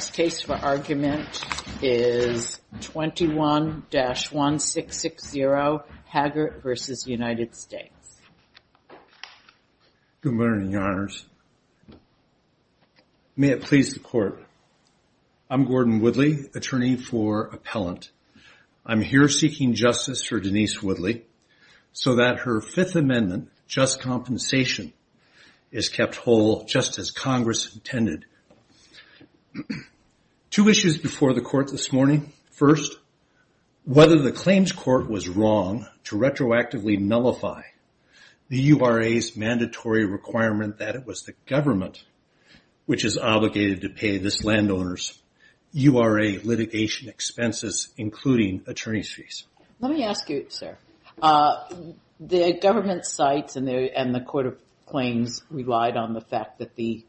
Good morning, Your Honors. May it please the Court, I'm Gordon Woodley, Attorney for Appellant. I'm here seeking justice for Denise Woodley so that her Fifth Amendment, just compensation, is kept whole just as Congress intended. Two issues before the Court this morning. First, whether the claims court was wrong to retroactively nullify the URA's mandatory requirement that it was the government which is obligated to pay this landowner's URA litigation expenses, including attorney's fees. Let me ask you, sir, the government sites and the Court of Claims relied on the fact that the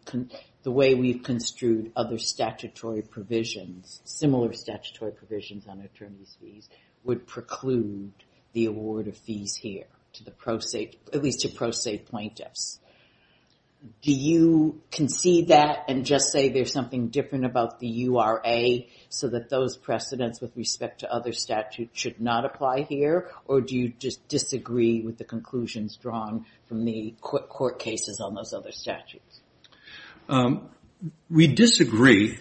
way we've construed other statutory provisions, similar statutory provisions on attorney's fees, would preclude the award of fees here to the pro se, at least to pro se plaintiffs. Do you concede that and just say there's something different about the URA so that those precedents with respect to other statute should not apply here, or do you just disagree with the conclusions drawn from the court cases on those other statutes? We disagree.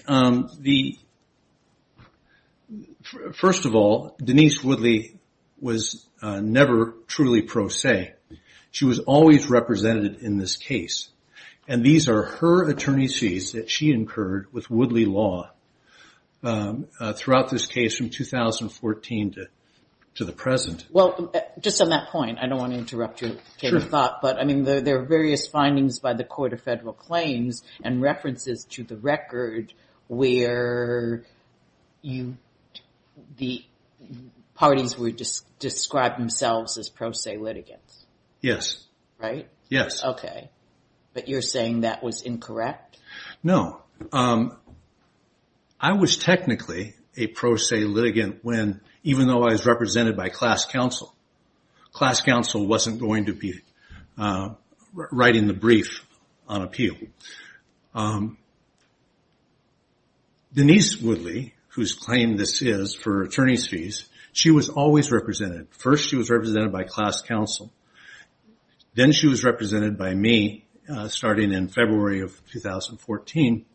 First of all, Denise Woodley was never truly pro se. She was always represented in this case, and these are her attorney's fees that she incurred with Woodley law throughout this case from 2014 to the present. Well, just on that point, I don't want to interrupt your thought, but I mean there are various findings by the Court of Federal Claims and references to the record where the parties would describe themselves as pro se litigants. Yes. Right? Yes. Okay, but you're saying that was incorrect? No. I was technically a pro se litigant when, even though I was represented by class counsel, class counsel wasn't going to be writing the brief on appeal. Denise Woodley, whose claim this is for attorney's fees, she was always represented. First she was represented by class counsel, then she was represented by me starting in February of 2014,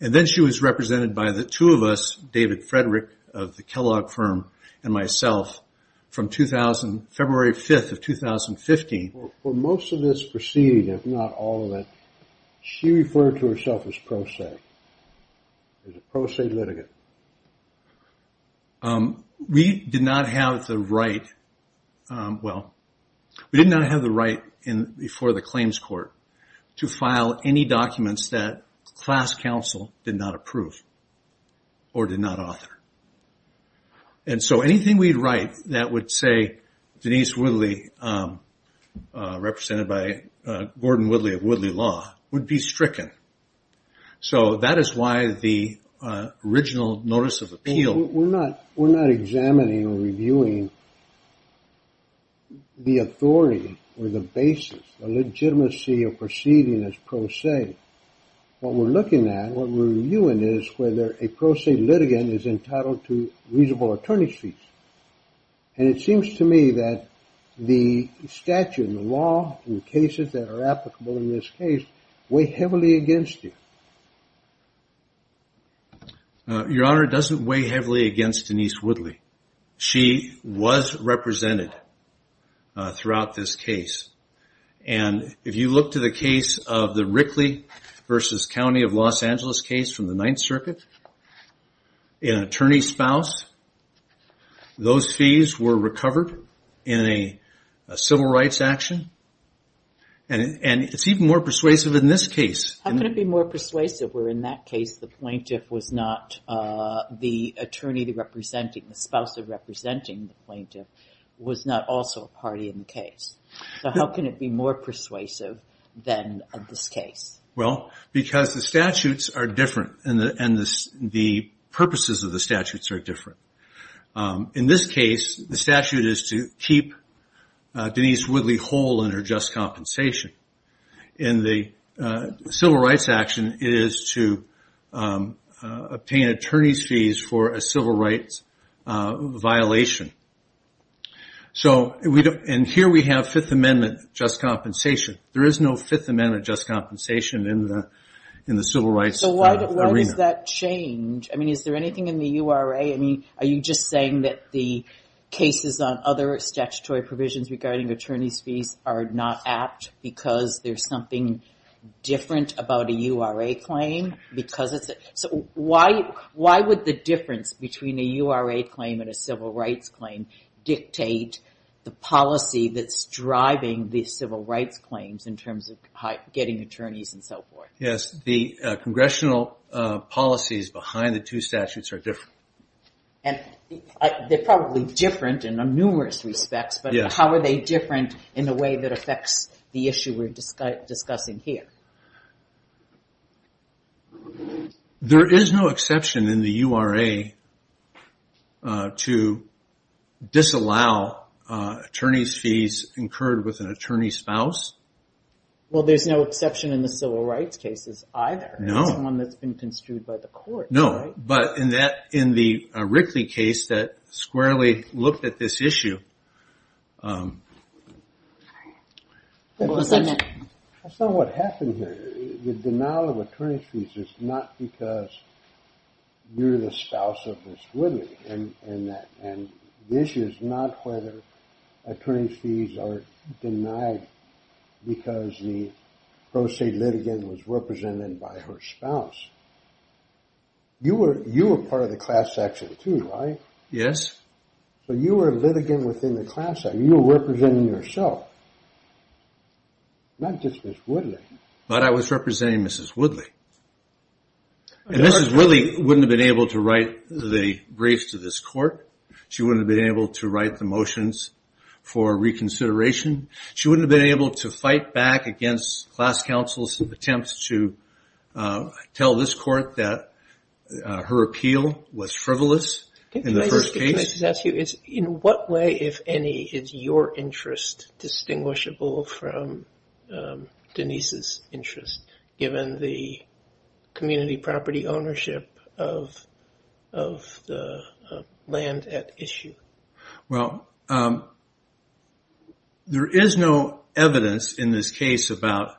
and then she was represented by the two of us, David Frederick of the Kellogg firm, and myself from February 5th of 2015. For most of this proceeding, if not all of it, she referred to herself as pro se, as a pro se litigant. We did not have the right, well, we did not have the right before the claims court to file any documents that class counsel did not approve or did not author. And so anything we write that would say Denise Woodley, represented by Gordon Woodley of Woodley Law, would be stricken. So that is why the original notice of appeal... We're not examining or reviewing the authority or the basis, the legitimacy of proceeding as pro se. What we're looking at, what we're reviewing is whether a pro se litigant is entitled to reasonable attorney's fees. And it seems to me that the Your Honor, it doesn't weigh heavily against Denise Woodley. She was represented throughout this case. And if you look to the case of the Rickley versus County of Los Angeles case from the Ninth Circuit, an attorney's spouse, those fees were recovered in a civil rights action. And it's even persuasive in this case. How can it be more persuasive where in that case the plaintiff was not the attorney representing, the spouse representing the plaintiff was not also a party in the case? So how can it be more persuasive than in this case? Well, because the statutes are different and the purposes of the statutes are different. In this case, the statute is to keep Denise Woodley whole in her just compensation. In the civil rights action, it is to obtain attorney's fees for a civil rights violation. And here we have Fifth Amendment just compensation. There is no Fifth Amendment just compensation in the civil rights arena. So why does that change? I mean, is there anything in the URA? I mean, are you just saying that the statutory provisions regarding attorney's fees are not apt because there's something different about a URA claim? So why would the difference between a URA claim and a civil rights claim dictate the policy that's driving the civil rights claims in terms of getting attorneys and so forth? Yes, the congressional policies behind the two statutes are different. And they're probably different in numerous respects, but how are they different in the way that affects the issue we're discussing here? There is no exception in the URA to disallow attorney's fees incurred with an attorney's spouse. Well, there's no exception in the civil rights cases either. It's one that's been construed by the court. No, but in the Rickley case that squarely looked at this issue... That's not what happened here. The denial of attorney's fees is not because you're the spouse of Ms. Ridley. And the issue is not whether attorney's fees are denied because the pro se litigant was represented by her spouse. You were part of the class section too, right? Yes. So you were a litigant within the class section. You were representing yourself. Not just Ms. Woodley. But I was representing Mrs. Woodley. And Mrs. Woodley wouldn't have been able to write the briefs to this court. She wouldn't have been able to write the motions for reconsideration. She wouldn't have been able to fight back against class counsel's attempts to tell this court that her appeal was frivolous in the first case. Can I just ask you, in what way, if any, is your interest distinguishable from Denise's interest, given the community property ownership of the land at issue? Well, there is no evidence in this case about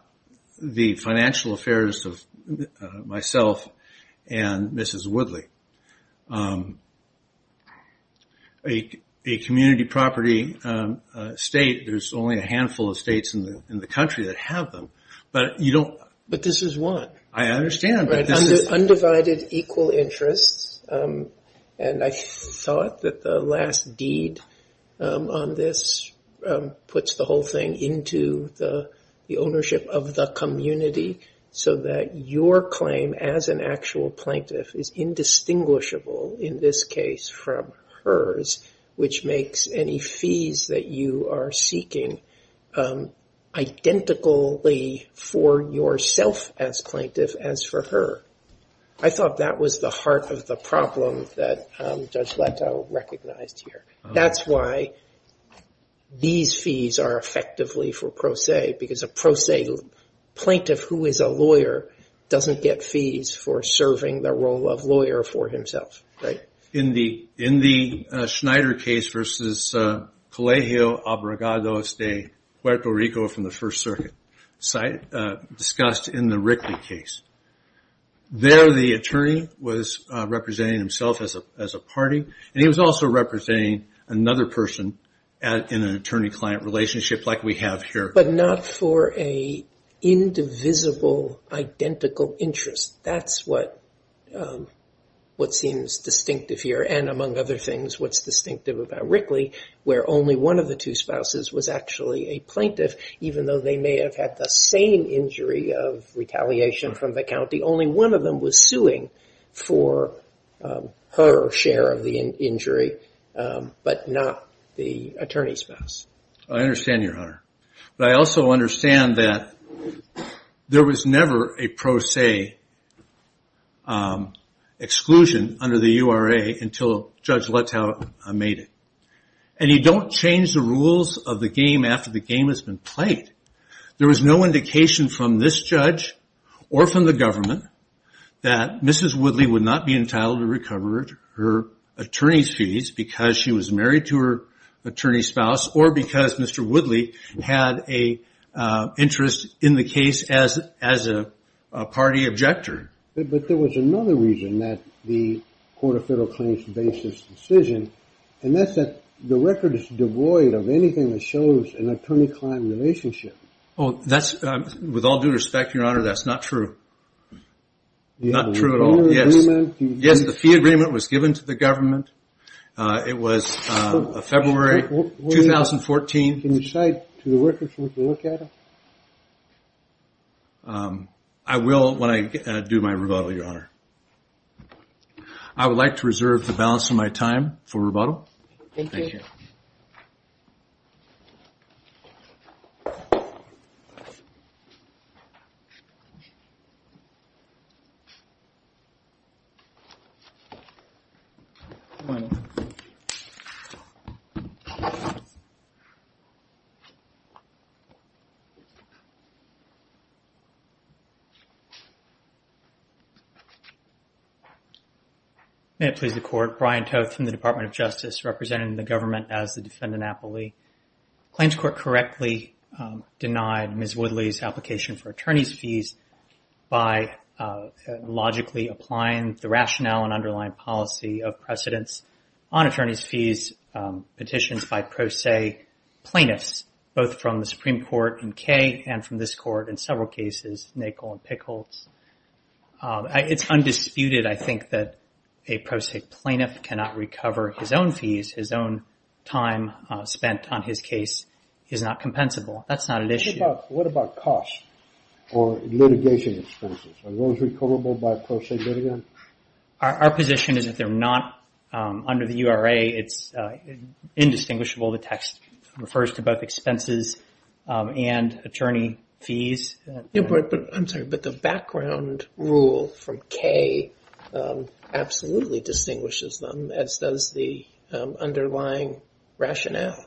the financial affairs of myself and Mrs. Woodley. A community property state, there's only a handful of states in the country that have them. But this is one. I understand. Undivided equal interests. And I thought that the last deed on this puts the whole thing into the ownership of the community so that your claim as an actual plaintiff is indistinguishable in this case from hers, which makes any fees that you are seeking identically for yourself as plaintiff as for her. I thought that was the heart of the problem that Judge Leto recognized here. That's why these fees are effectively for pro se, because a pro se plaintiff who is a lawyer doesn't get fees for serving the role of lawyer for himself. In the Schneider case versus Colegio Abrogados de Puerto Rico from the First Circuit, discussed in the Rickley case, there the attorney was representing himself as a party, and he was also representing another person in an attorney-client relationship, like we have here. But not for an indivisible, identical interest. That's what seems distinctive here, and among other things, what's distinctive about Rickley, where only one of the two spouses was actually a plaintiff, even though they may have had the same injury of retaliation from the county. Only one of them was suing for her share of the injury, but not the attorney's spouse. I understand you, Hunter, but I also understand that there was never a pro se exclusion under the URA until Judge Leto made it. And you don't change the rules of the game after the game has been played. There was no indication from this judge or from the government that Mrs. Woodley would not be entitled to recover her attorney's fees because she was married to her attorney's spouse, or because Mr. Woodley had an interest in the case as a party objector. But there was another reason that the Court of Federal Claims based this decision, and that's that the record is devoid of anything that shows an attorney-client relationship. With all due respect, Your Honor, that's not true. Not true at all. Yes, the fee agreement was given to the government. It was February 2014. Can you cite to the record for us to look at it? I will when I do my rebuttal, Your Honor. I would like to reserve the balance of my time for rebuttal. Thank you. May it please the Court. Brian Toth from the Department of Justice, representing the Government of California. It's undisputed, I think, that a pro se plaintiff cannot recover his own fees, his own time spent on his case is not compensable. That's not an issue. What about costs or litigation expenses? Are those recoverable by pro se litigant? Our position is that they're not. Under the URA, it's indistinguishable. The text refers to both expenses and attorney fees. I'm sorry, but the background rule from K absolutely distinguishes them, as does the underlying rationale.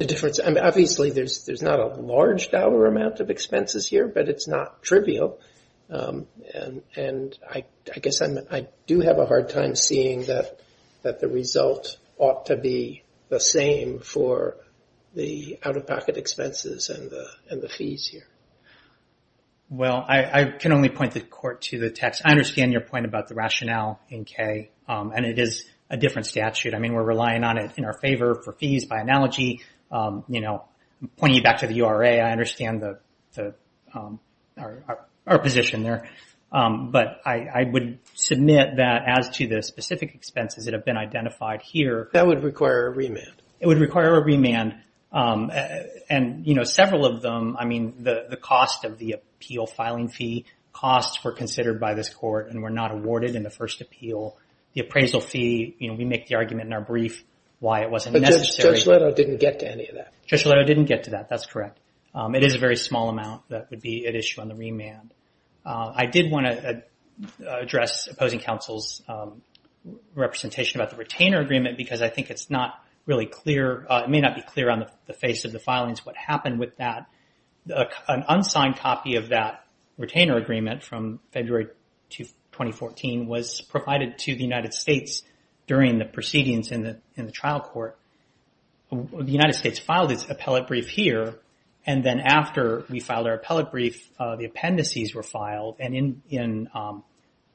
Obviously, there's not a large dollar amount of expenses here, but it's not trivial. I guess I do have a hard time seeing that the result ought to be the same for the out-of-pocket expenses and the fees here. I can only point the Court to the text. I understand your point about the rationale in K. It is a different statute. We're relying on it in our favor for fees. I'm pointing you back to the URA. I understand our position there. But I would submit that as to the specific expenses that have been identified here. That would require a remand. It would require a remand. Several of them, the cost of the appeal filing fee, costs were considered by this Court and were not awarded in the first appeal. The appraisal fee, we make the argument in our brief why it wasn't necessary. But Judge Leto didn't get to any of that. Judge Leto didn't get to that. That's correct. It is a very small amount that would be at issue on the remand. I did want to address opposing counsel's representation about the retainer agreement because I think it's not really clear. It may not be clear on the face of the filings what happened with that. An unsigned copy of that retainer agreement from February 2014 was provided to the United States during the proceedings in the trial court. The United States filed its appellate brief here. And then after we filed our appellate brief, the appendices were filed. And in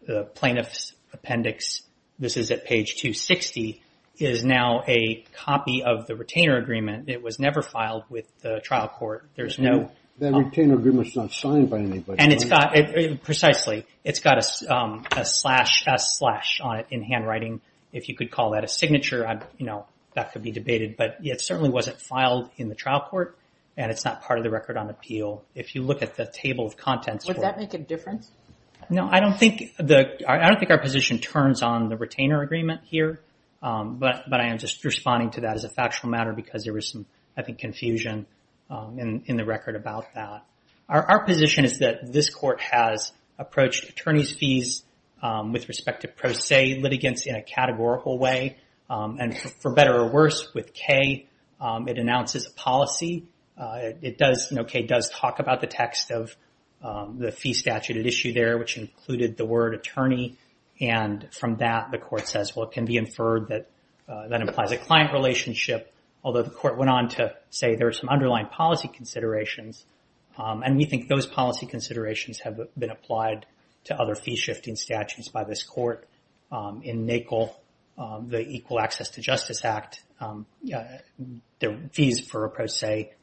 the plaintiff's appendix, this is at page 260, is now a copy of the retainer agreement. It was never filed with the trial court. That retainer agreement is not signed by anybody. Precisely. It's got a slash on it in handwriting. If you could call that a signature, that could be debated. But it certainly wasn't filed in the trial court. And it's not part of the record on appeal. If you look at the table of contents for it. Would that make a difference? No. I don't think our position turns on the retainer agreement here. But I am just responding to that as a factual matter because there was some, I think, confusion in the record about that. Our position is that this court has approached attorney's fees with respect to pro se litigants in a categorical way. And for better or worse, with Kay, it announces a policy. It does, you know, Kay does talk about the text of the fee statute at issue there, which included the word attorney. And from that, the court says, well, it can be inferred that that implies a client relationship. Although the court went on to say there are some underlying policy considerations. And we think those policy considerations have been applied to other fee shifting statutes by this court. In NACL, the Equal Access to Justice Act, the fees for a pro se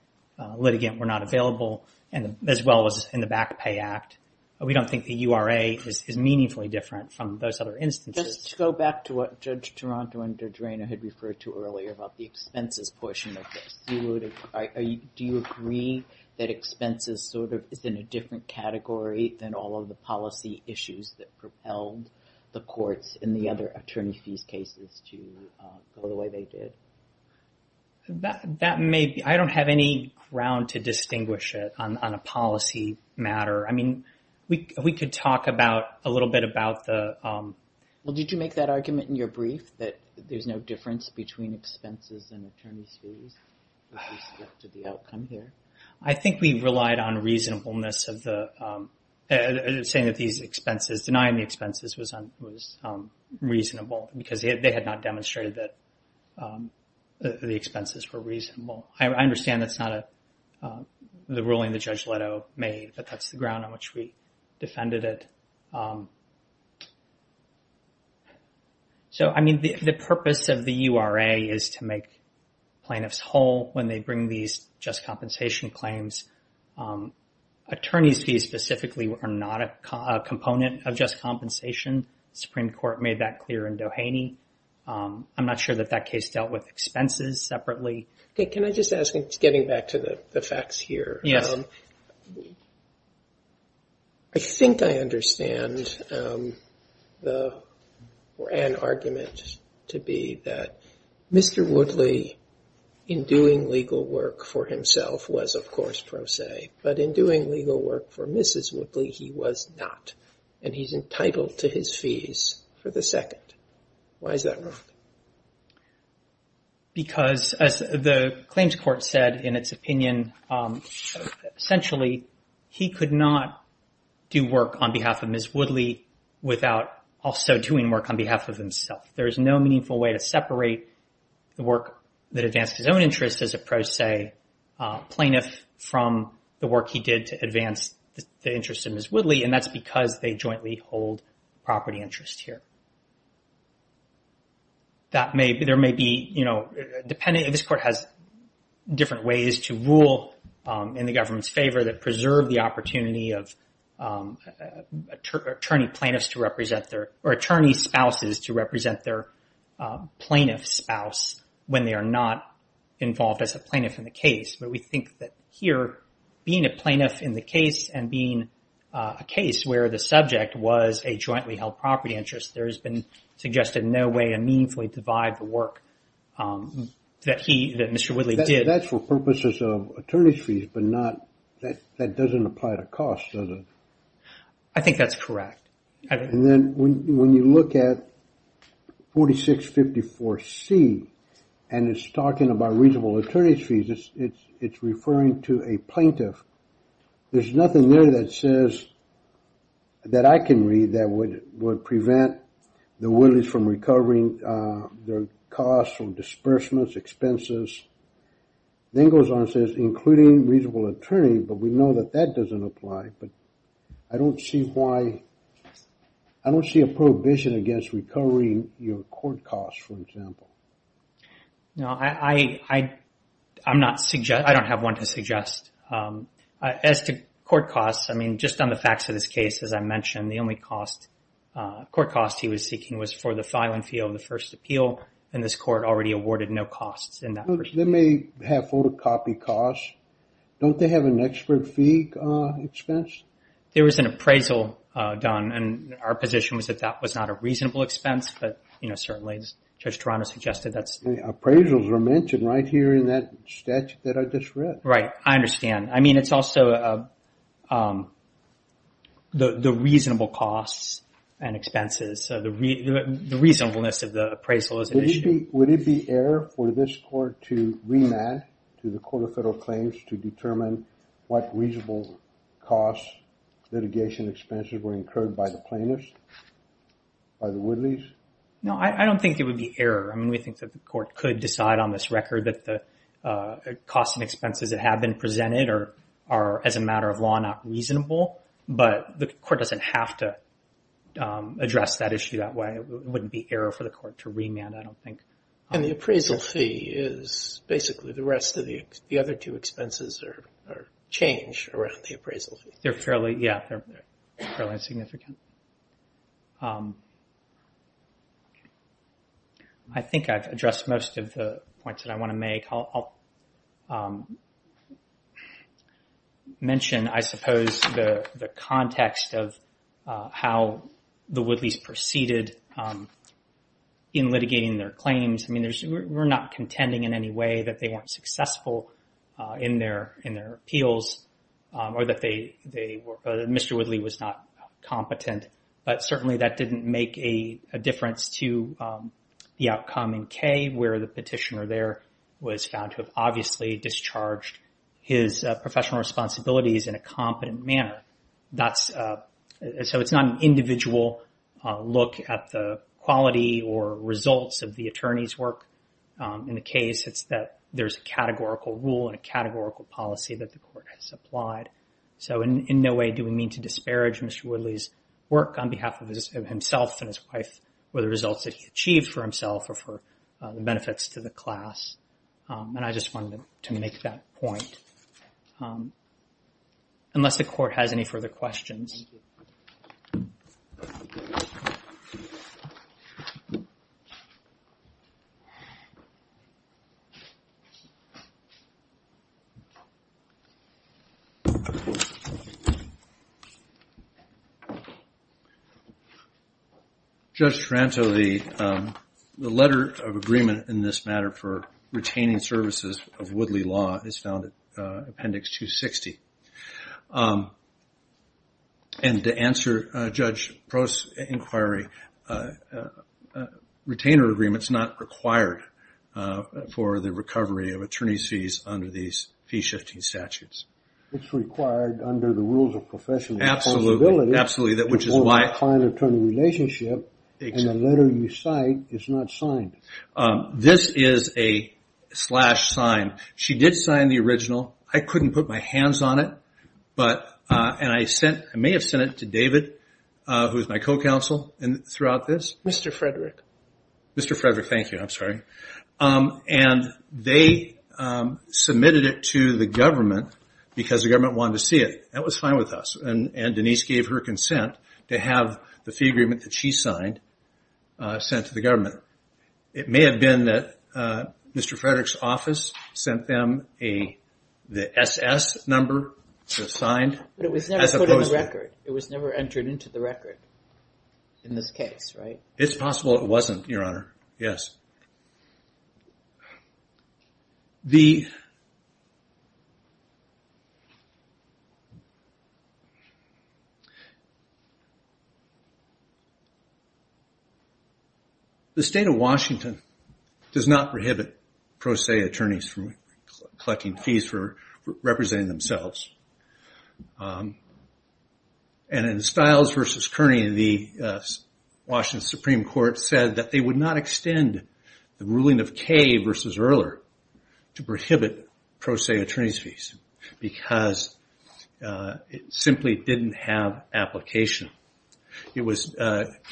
litigant were not available. And as well as in the Back Pay Act. We don't think the URA is meaningfully different from those other instances. Just to go back to what Judge Toronto and Judge Rayner had referred to earlier about the expenses portion of this. Do you agree that expenses sort of is in a different category than all of the policy issues that propelled the courts in the other attorney's fees cases to go the way they did? That may be, I don't have any ground to distinguish it on a policy matter. I mean, we could talk about, a little bit about the. Well, did you make that argument in your brief that there's no difference between expenses and attorney's fees? To the outcome here. I think we relied on reasonableness of the, saying that these expenses, denying the expenses was reasonable. Because they had not demonstrated that the expenses were reasonable. I understand that's not the ruling that Judge Leto made, but that's the ground on which we defended it. So, I mean, the purpose of the URA is to make plaintiffs whole when they bring these just compensation claims. Attorney's fees specifically are not a component of just compensation. The Supreme Court made that clear in Doheny. I'm not sure that that case dealt with expenses separately. Can I just ask, getting back to the facts here. Yes. I think I understand an argument to be that Mr. Woodley in doing legal work for himself was, of course, pro se. But in doing legal work for Mrs. Woodley, he was not. And he's entitled to his fees for the second. Why is that wrong? Because, as the claims court said in its opinion, essentially, he could not do work on behalf of Mrs. Woodley without also doing work on behalf of himself. There is no meaningful way to separate the work that advanced his own interest as a pro se plaintiff from the work he did to advance the interest of Mrs. Woodley. And that's because they jointly hold property interest here. This court has different ways to rule in the government's favor that preserve the opportunity of attorney spouses to represent their plaintiff spouse when they are not involved as a plaintiff in the case. But we think that here, being a plaintiff in the case and being a case where the subject was a jointly held property interest, there has been suggested no way to meaningfully divide the work that Mr. Woodley did. That's for purposes of attorney's fees, but that doesn't apply to costs, does it? I think that's correct. And then when you look at 4654C and it's talking about reasonable attorney's fees, it's referring to a plaintiff. There's nothing there that says that I can read that would prevent the Woodleys from recovering their costs from disbursements, expenses. Then it goes on and says including reasonable attorney, but we know that that doesn't apply. But I don't see a prohibition against recovering your court costs, for example. No, I don't have one to suggest. As to court costs, I mean, just on the facts of this case, as I mentioned, the only court cost he was seeking was for the file and field of the first appeal. And this court already awarded no costs in that respect. They may have photocopy costs. Don't they have an expert fee expense? There was an appraisal done, and our position was that that was not a reasonable expense, but certainly Judge Toronto suggested that's... Appraisals are mentioned right here in that statute that I just read. Right, I understand. I mean, it's also the reasonable costs and expenses, the reasonableness of the appraisal as an issue. Would it be error for this court to remand to the Court of Federal Claims to determine what reasonable costs, litigation expenses were incurred by the plaintiffs, by the Woodleys? No, I don't think it would be error. I mean, we think that the court could decide on this record that the costs and expenses that have been presented are, as a matter of law, not reasonable. But the court doesn't have to address that issue that way. It wouldn't be error for the court to remand, I don't think. And the appraisal fee is basically the rest of the other two expenses or change around the appraisal fee. They're fairly, yeah, they're fairly insignificant. I think I've addressed most of the points that I want to make. I'll mention, I suppose, the context of how the Woodleys proceeded in litigating their claims. I mean, we're not contending in any way that they weren't successful in their appeals or that Mr. Woodley was not competent. But certainly that didn't make a difference to the outcome in K where the petitioner there was found to have obviously discharged his professional responsibilities in a competent manner. So it's not an individual look at the quality or results of the attorney's work in the case. It's that there's a categorical rule and a categorical policy that the court has applied. So in no way do we mean to disparage Mr. Woodley's work on behalf of himself and his wife or the results that he achieved for himself or for the benefits to the class. And I just wanted to make that point unless the court has any further questions. Thank you. Judge Taranto, the letter of agreement in this matter for retaining services of Woodley law is found in Appendix 260. And to answer Judge Prost's inquiry, retainer agreement is not required for the recovery of attorney's fees under these fee-shifting statutes. It's required under the rules of professional responsibility. Absolutely. In order to find an attorney relationship and the letter you cite is not signed. This is a slash sign. She did sign the original. I couldn't put my hands on it, but I may have sent it to David, who is my co-counsel throughout this. Mr. Frederick. Mr. Frederick, thank you. I'm sorry. And they submitted it to the government because the government wanted to see it. That was fine with us. And Denise gave her consent to have the fee agreement that she signed sent to the government. It may have been that Mr. Frederick's office sent them the SS number that was signed. But it was never put in the record. It was never entered into the record in this case, right? It's possible it wasn't, Your Honor. Yes. The State of Washington does not prohibit pro se attorneys from collecting fees for representing themselves. And in Stiles v. Kearney, the Washington Supreme Court said that they would not extend the ruling of Kaye v. Earler to prohibit pro se attorney's fees because it simply didn't have application. It was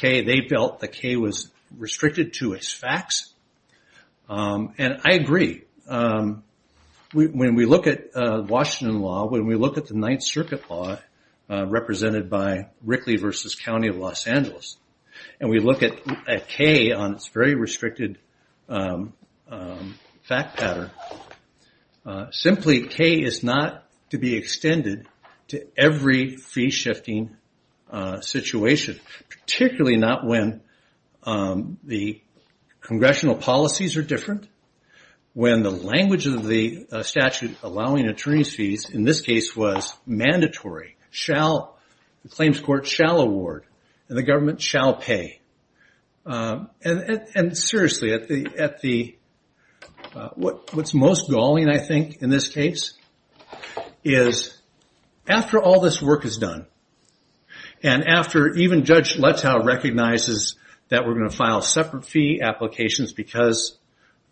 Kaye. They felt that Kaye was restricted to its facts. And I agree. When we look at Washington law, when we look at the Ninth Circuit law represented by Rickley v. County of Los Angeles, and we look at Kaye on its very restricted fact pattern, simply Kaye is not to be extended to every fee-shifting situation, particularly not when the congressional policies are different, when the language of the statute allowing attorney's fees in this case was mandatory. The claims court shall award and the government shall pay. And seriously, what's most galling, I think, in this case, is after all this work is done, and after even Judge Letow recognizes that we're going to file separate fee applications because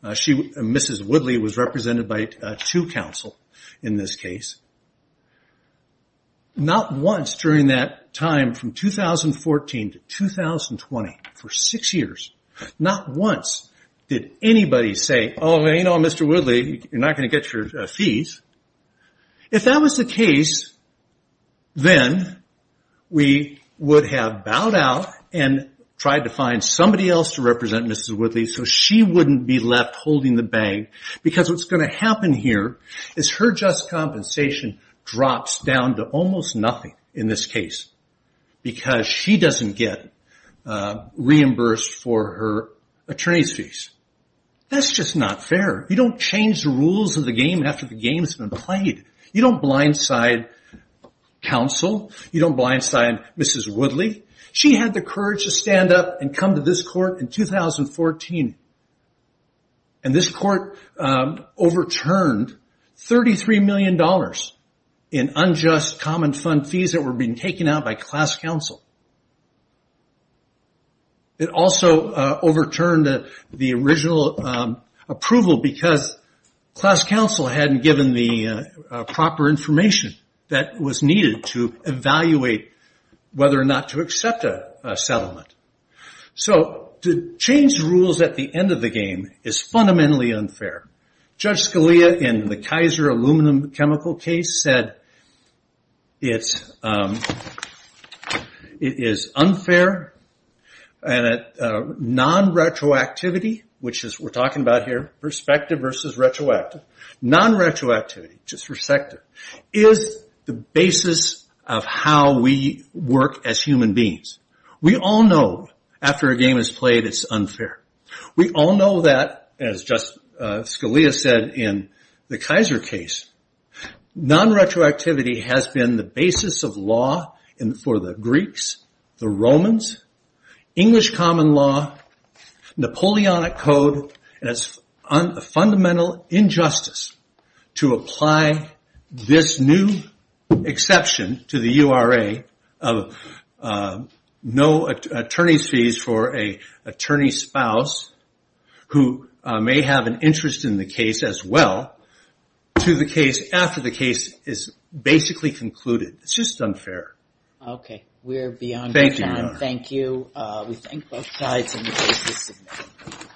Mrs. Woodley was represented by two counsel in this case, not once during that time from 2014 to 2020, for six years, not once did anybody say, oh, you know, Mr. Woodley, you're not going to get your fees. If that was the case, then we would have bowed out and tried to find somebody else to represent Mrs. Woodley so she wouldn't be left in this case because she doesn't get reimbursed for her attorney's fees. That's just not fair. You don't change the rules of the game after the game has been played. You don't blindside counsel. You don't blindside Mrs. Woodley. She had the courage to stand up and come to this court in 2014, and this court overturned $33 million in unjust common fund fees that were being taken out by class counsel. It also overturned the original approval because class counsel hadn't given the proper information that was needed to evaluate whether or not to accept a settlement. To change the rules at the end of the game is fundamentally unfair. Judge Scalia, in the Kaiser Aluminum Chemical case, said it is unfair and non-retroactivity, which we're talking about here, perspective versus retroactive, non-retroactivity, which is perspective, is the basis of how we work as human beings. We all know after a game is played, it's unfair. We all know that, as just Scalia said in the Kaiser case, non-retroactivity has been the basis of law for the Greeks, the Romans, English common law, Napoleonic code, and it's a fundamental injustice to apply this new exception to the URA of no attorney's fees for an attorney's spouse who may have an interest in the case as well to the case after the case is basically concluded. It's just unfair. Okay, we're beyond time. Thank you, Your Honor. Thank you. We thank both sides in the case this evening.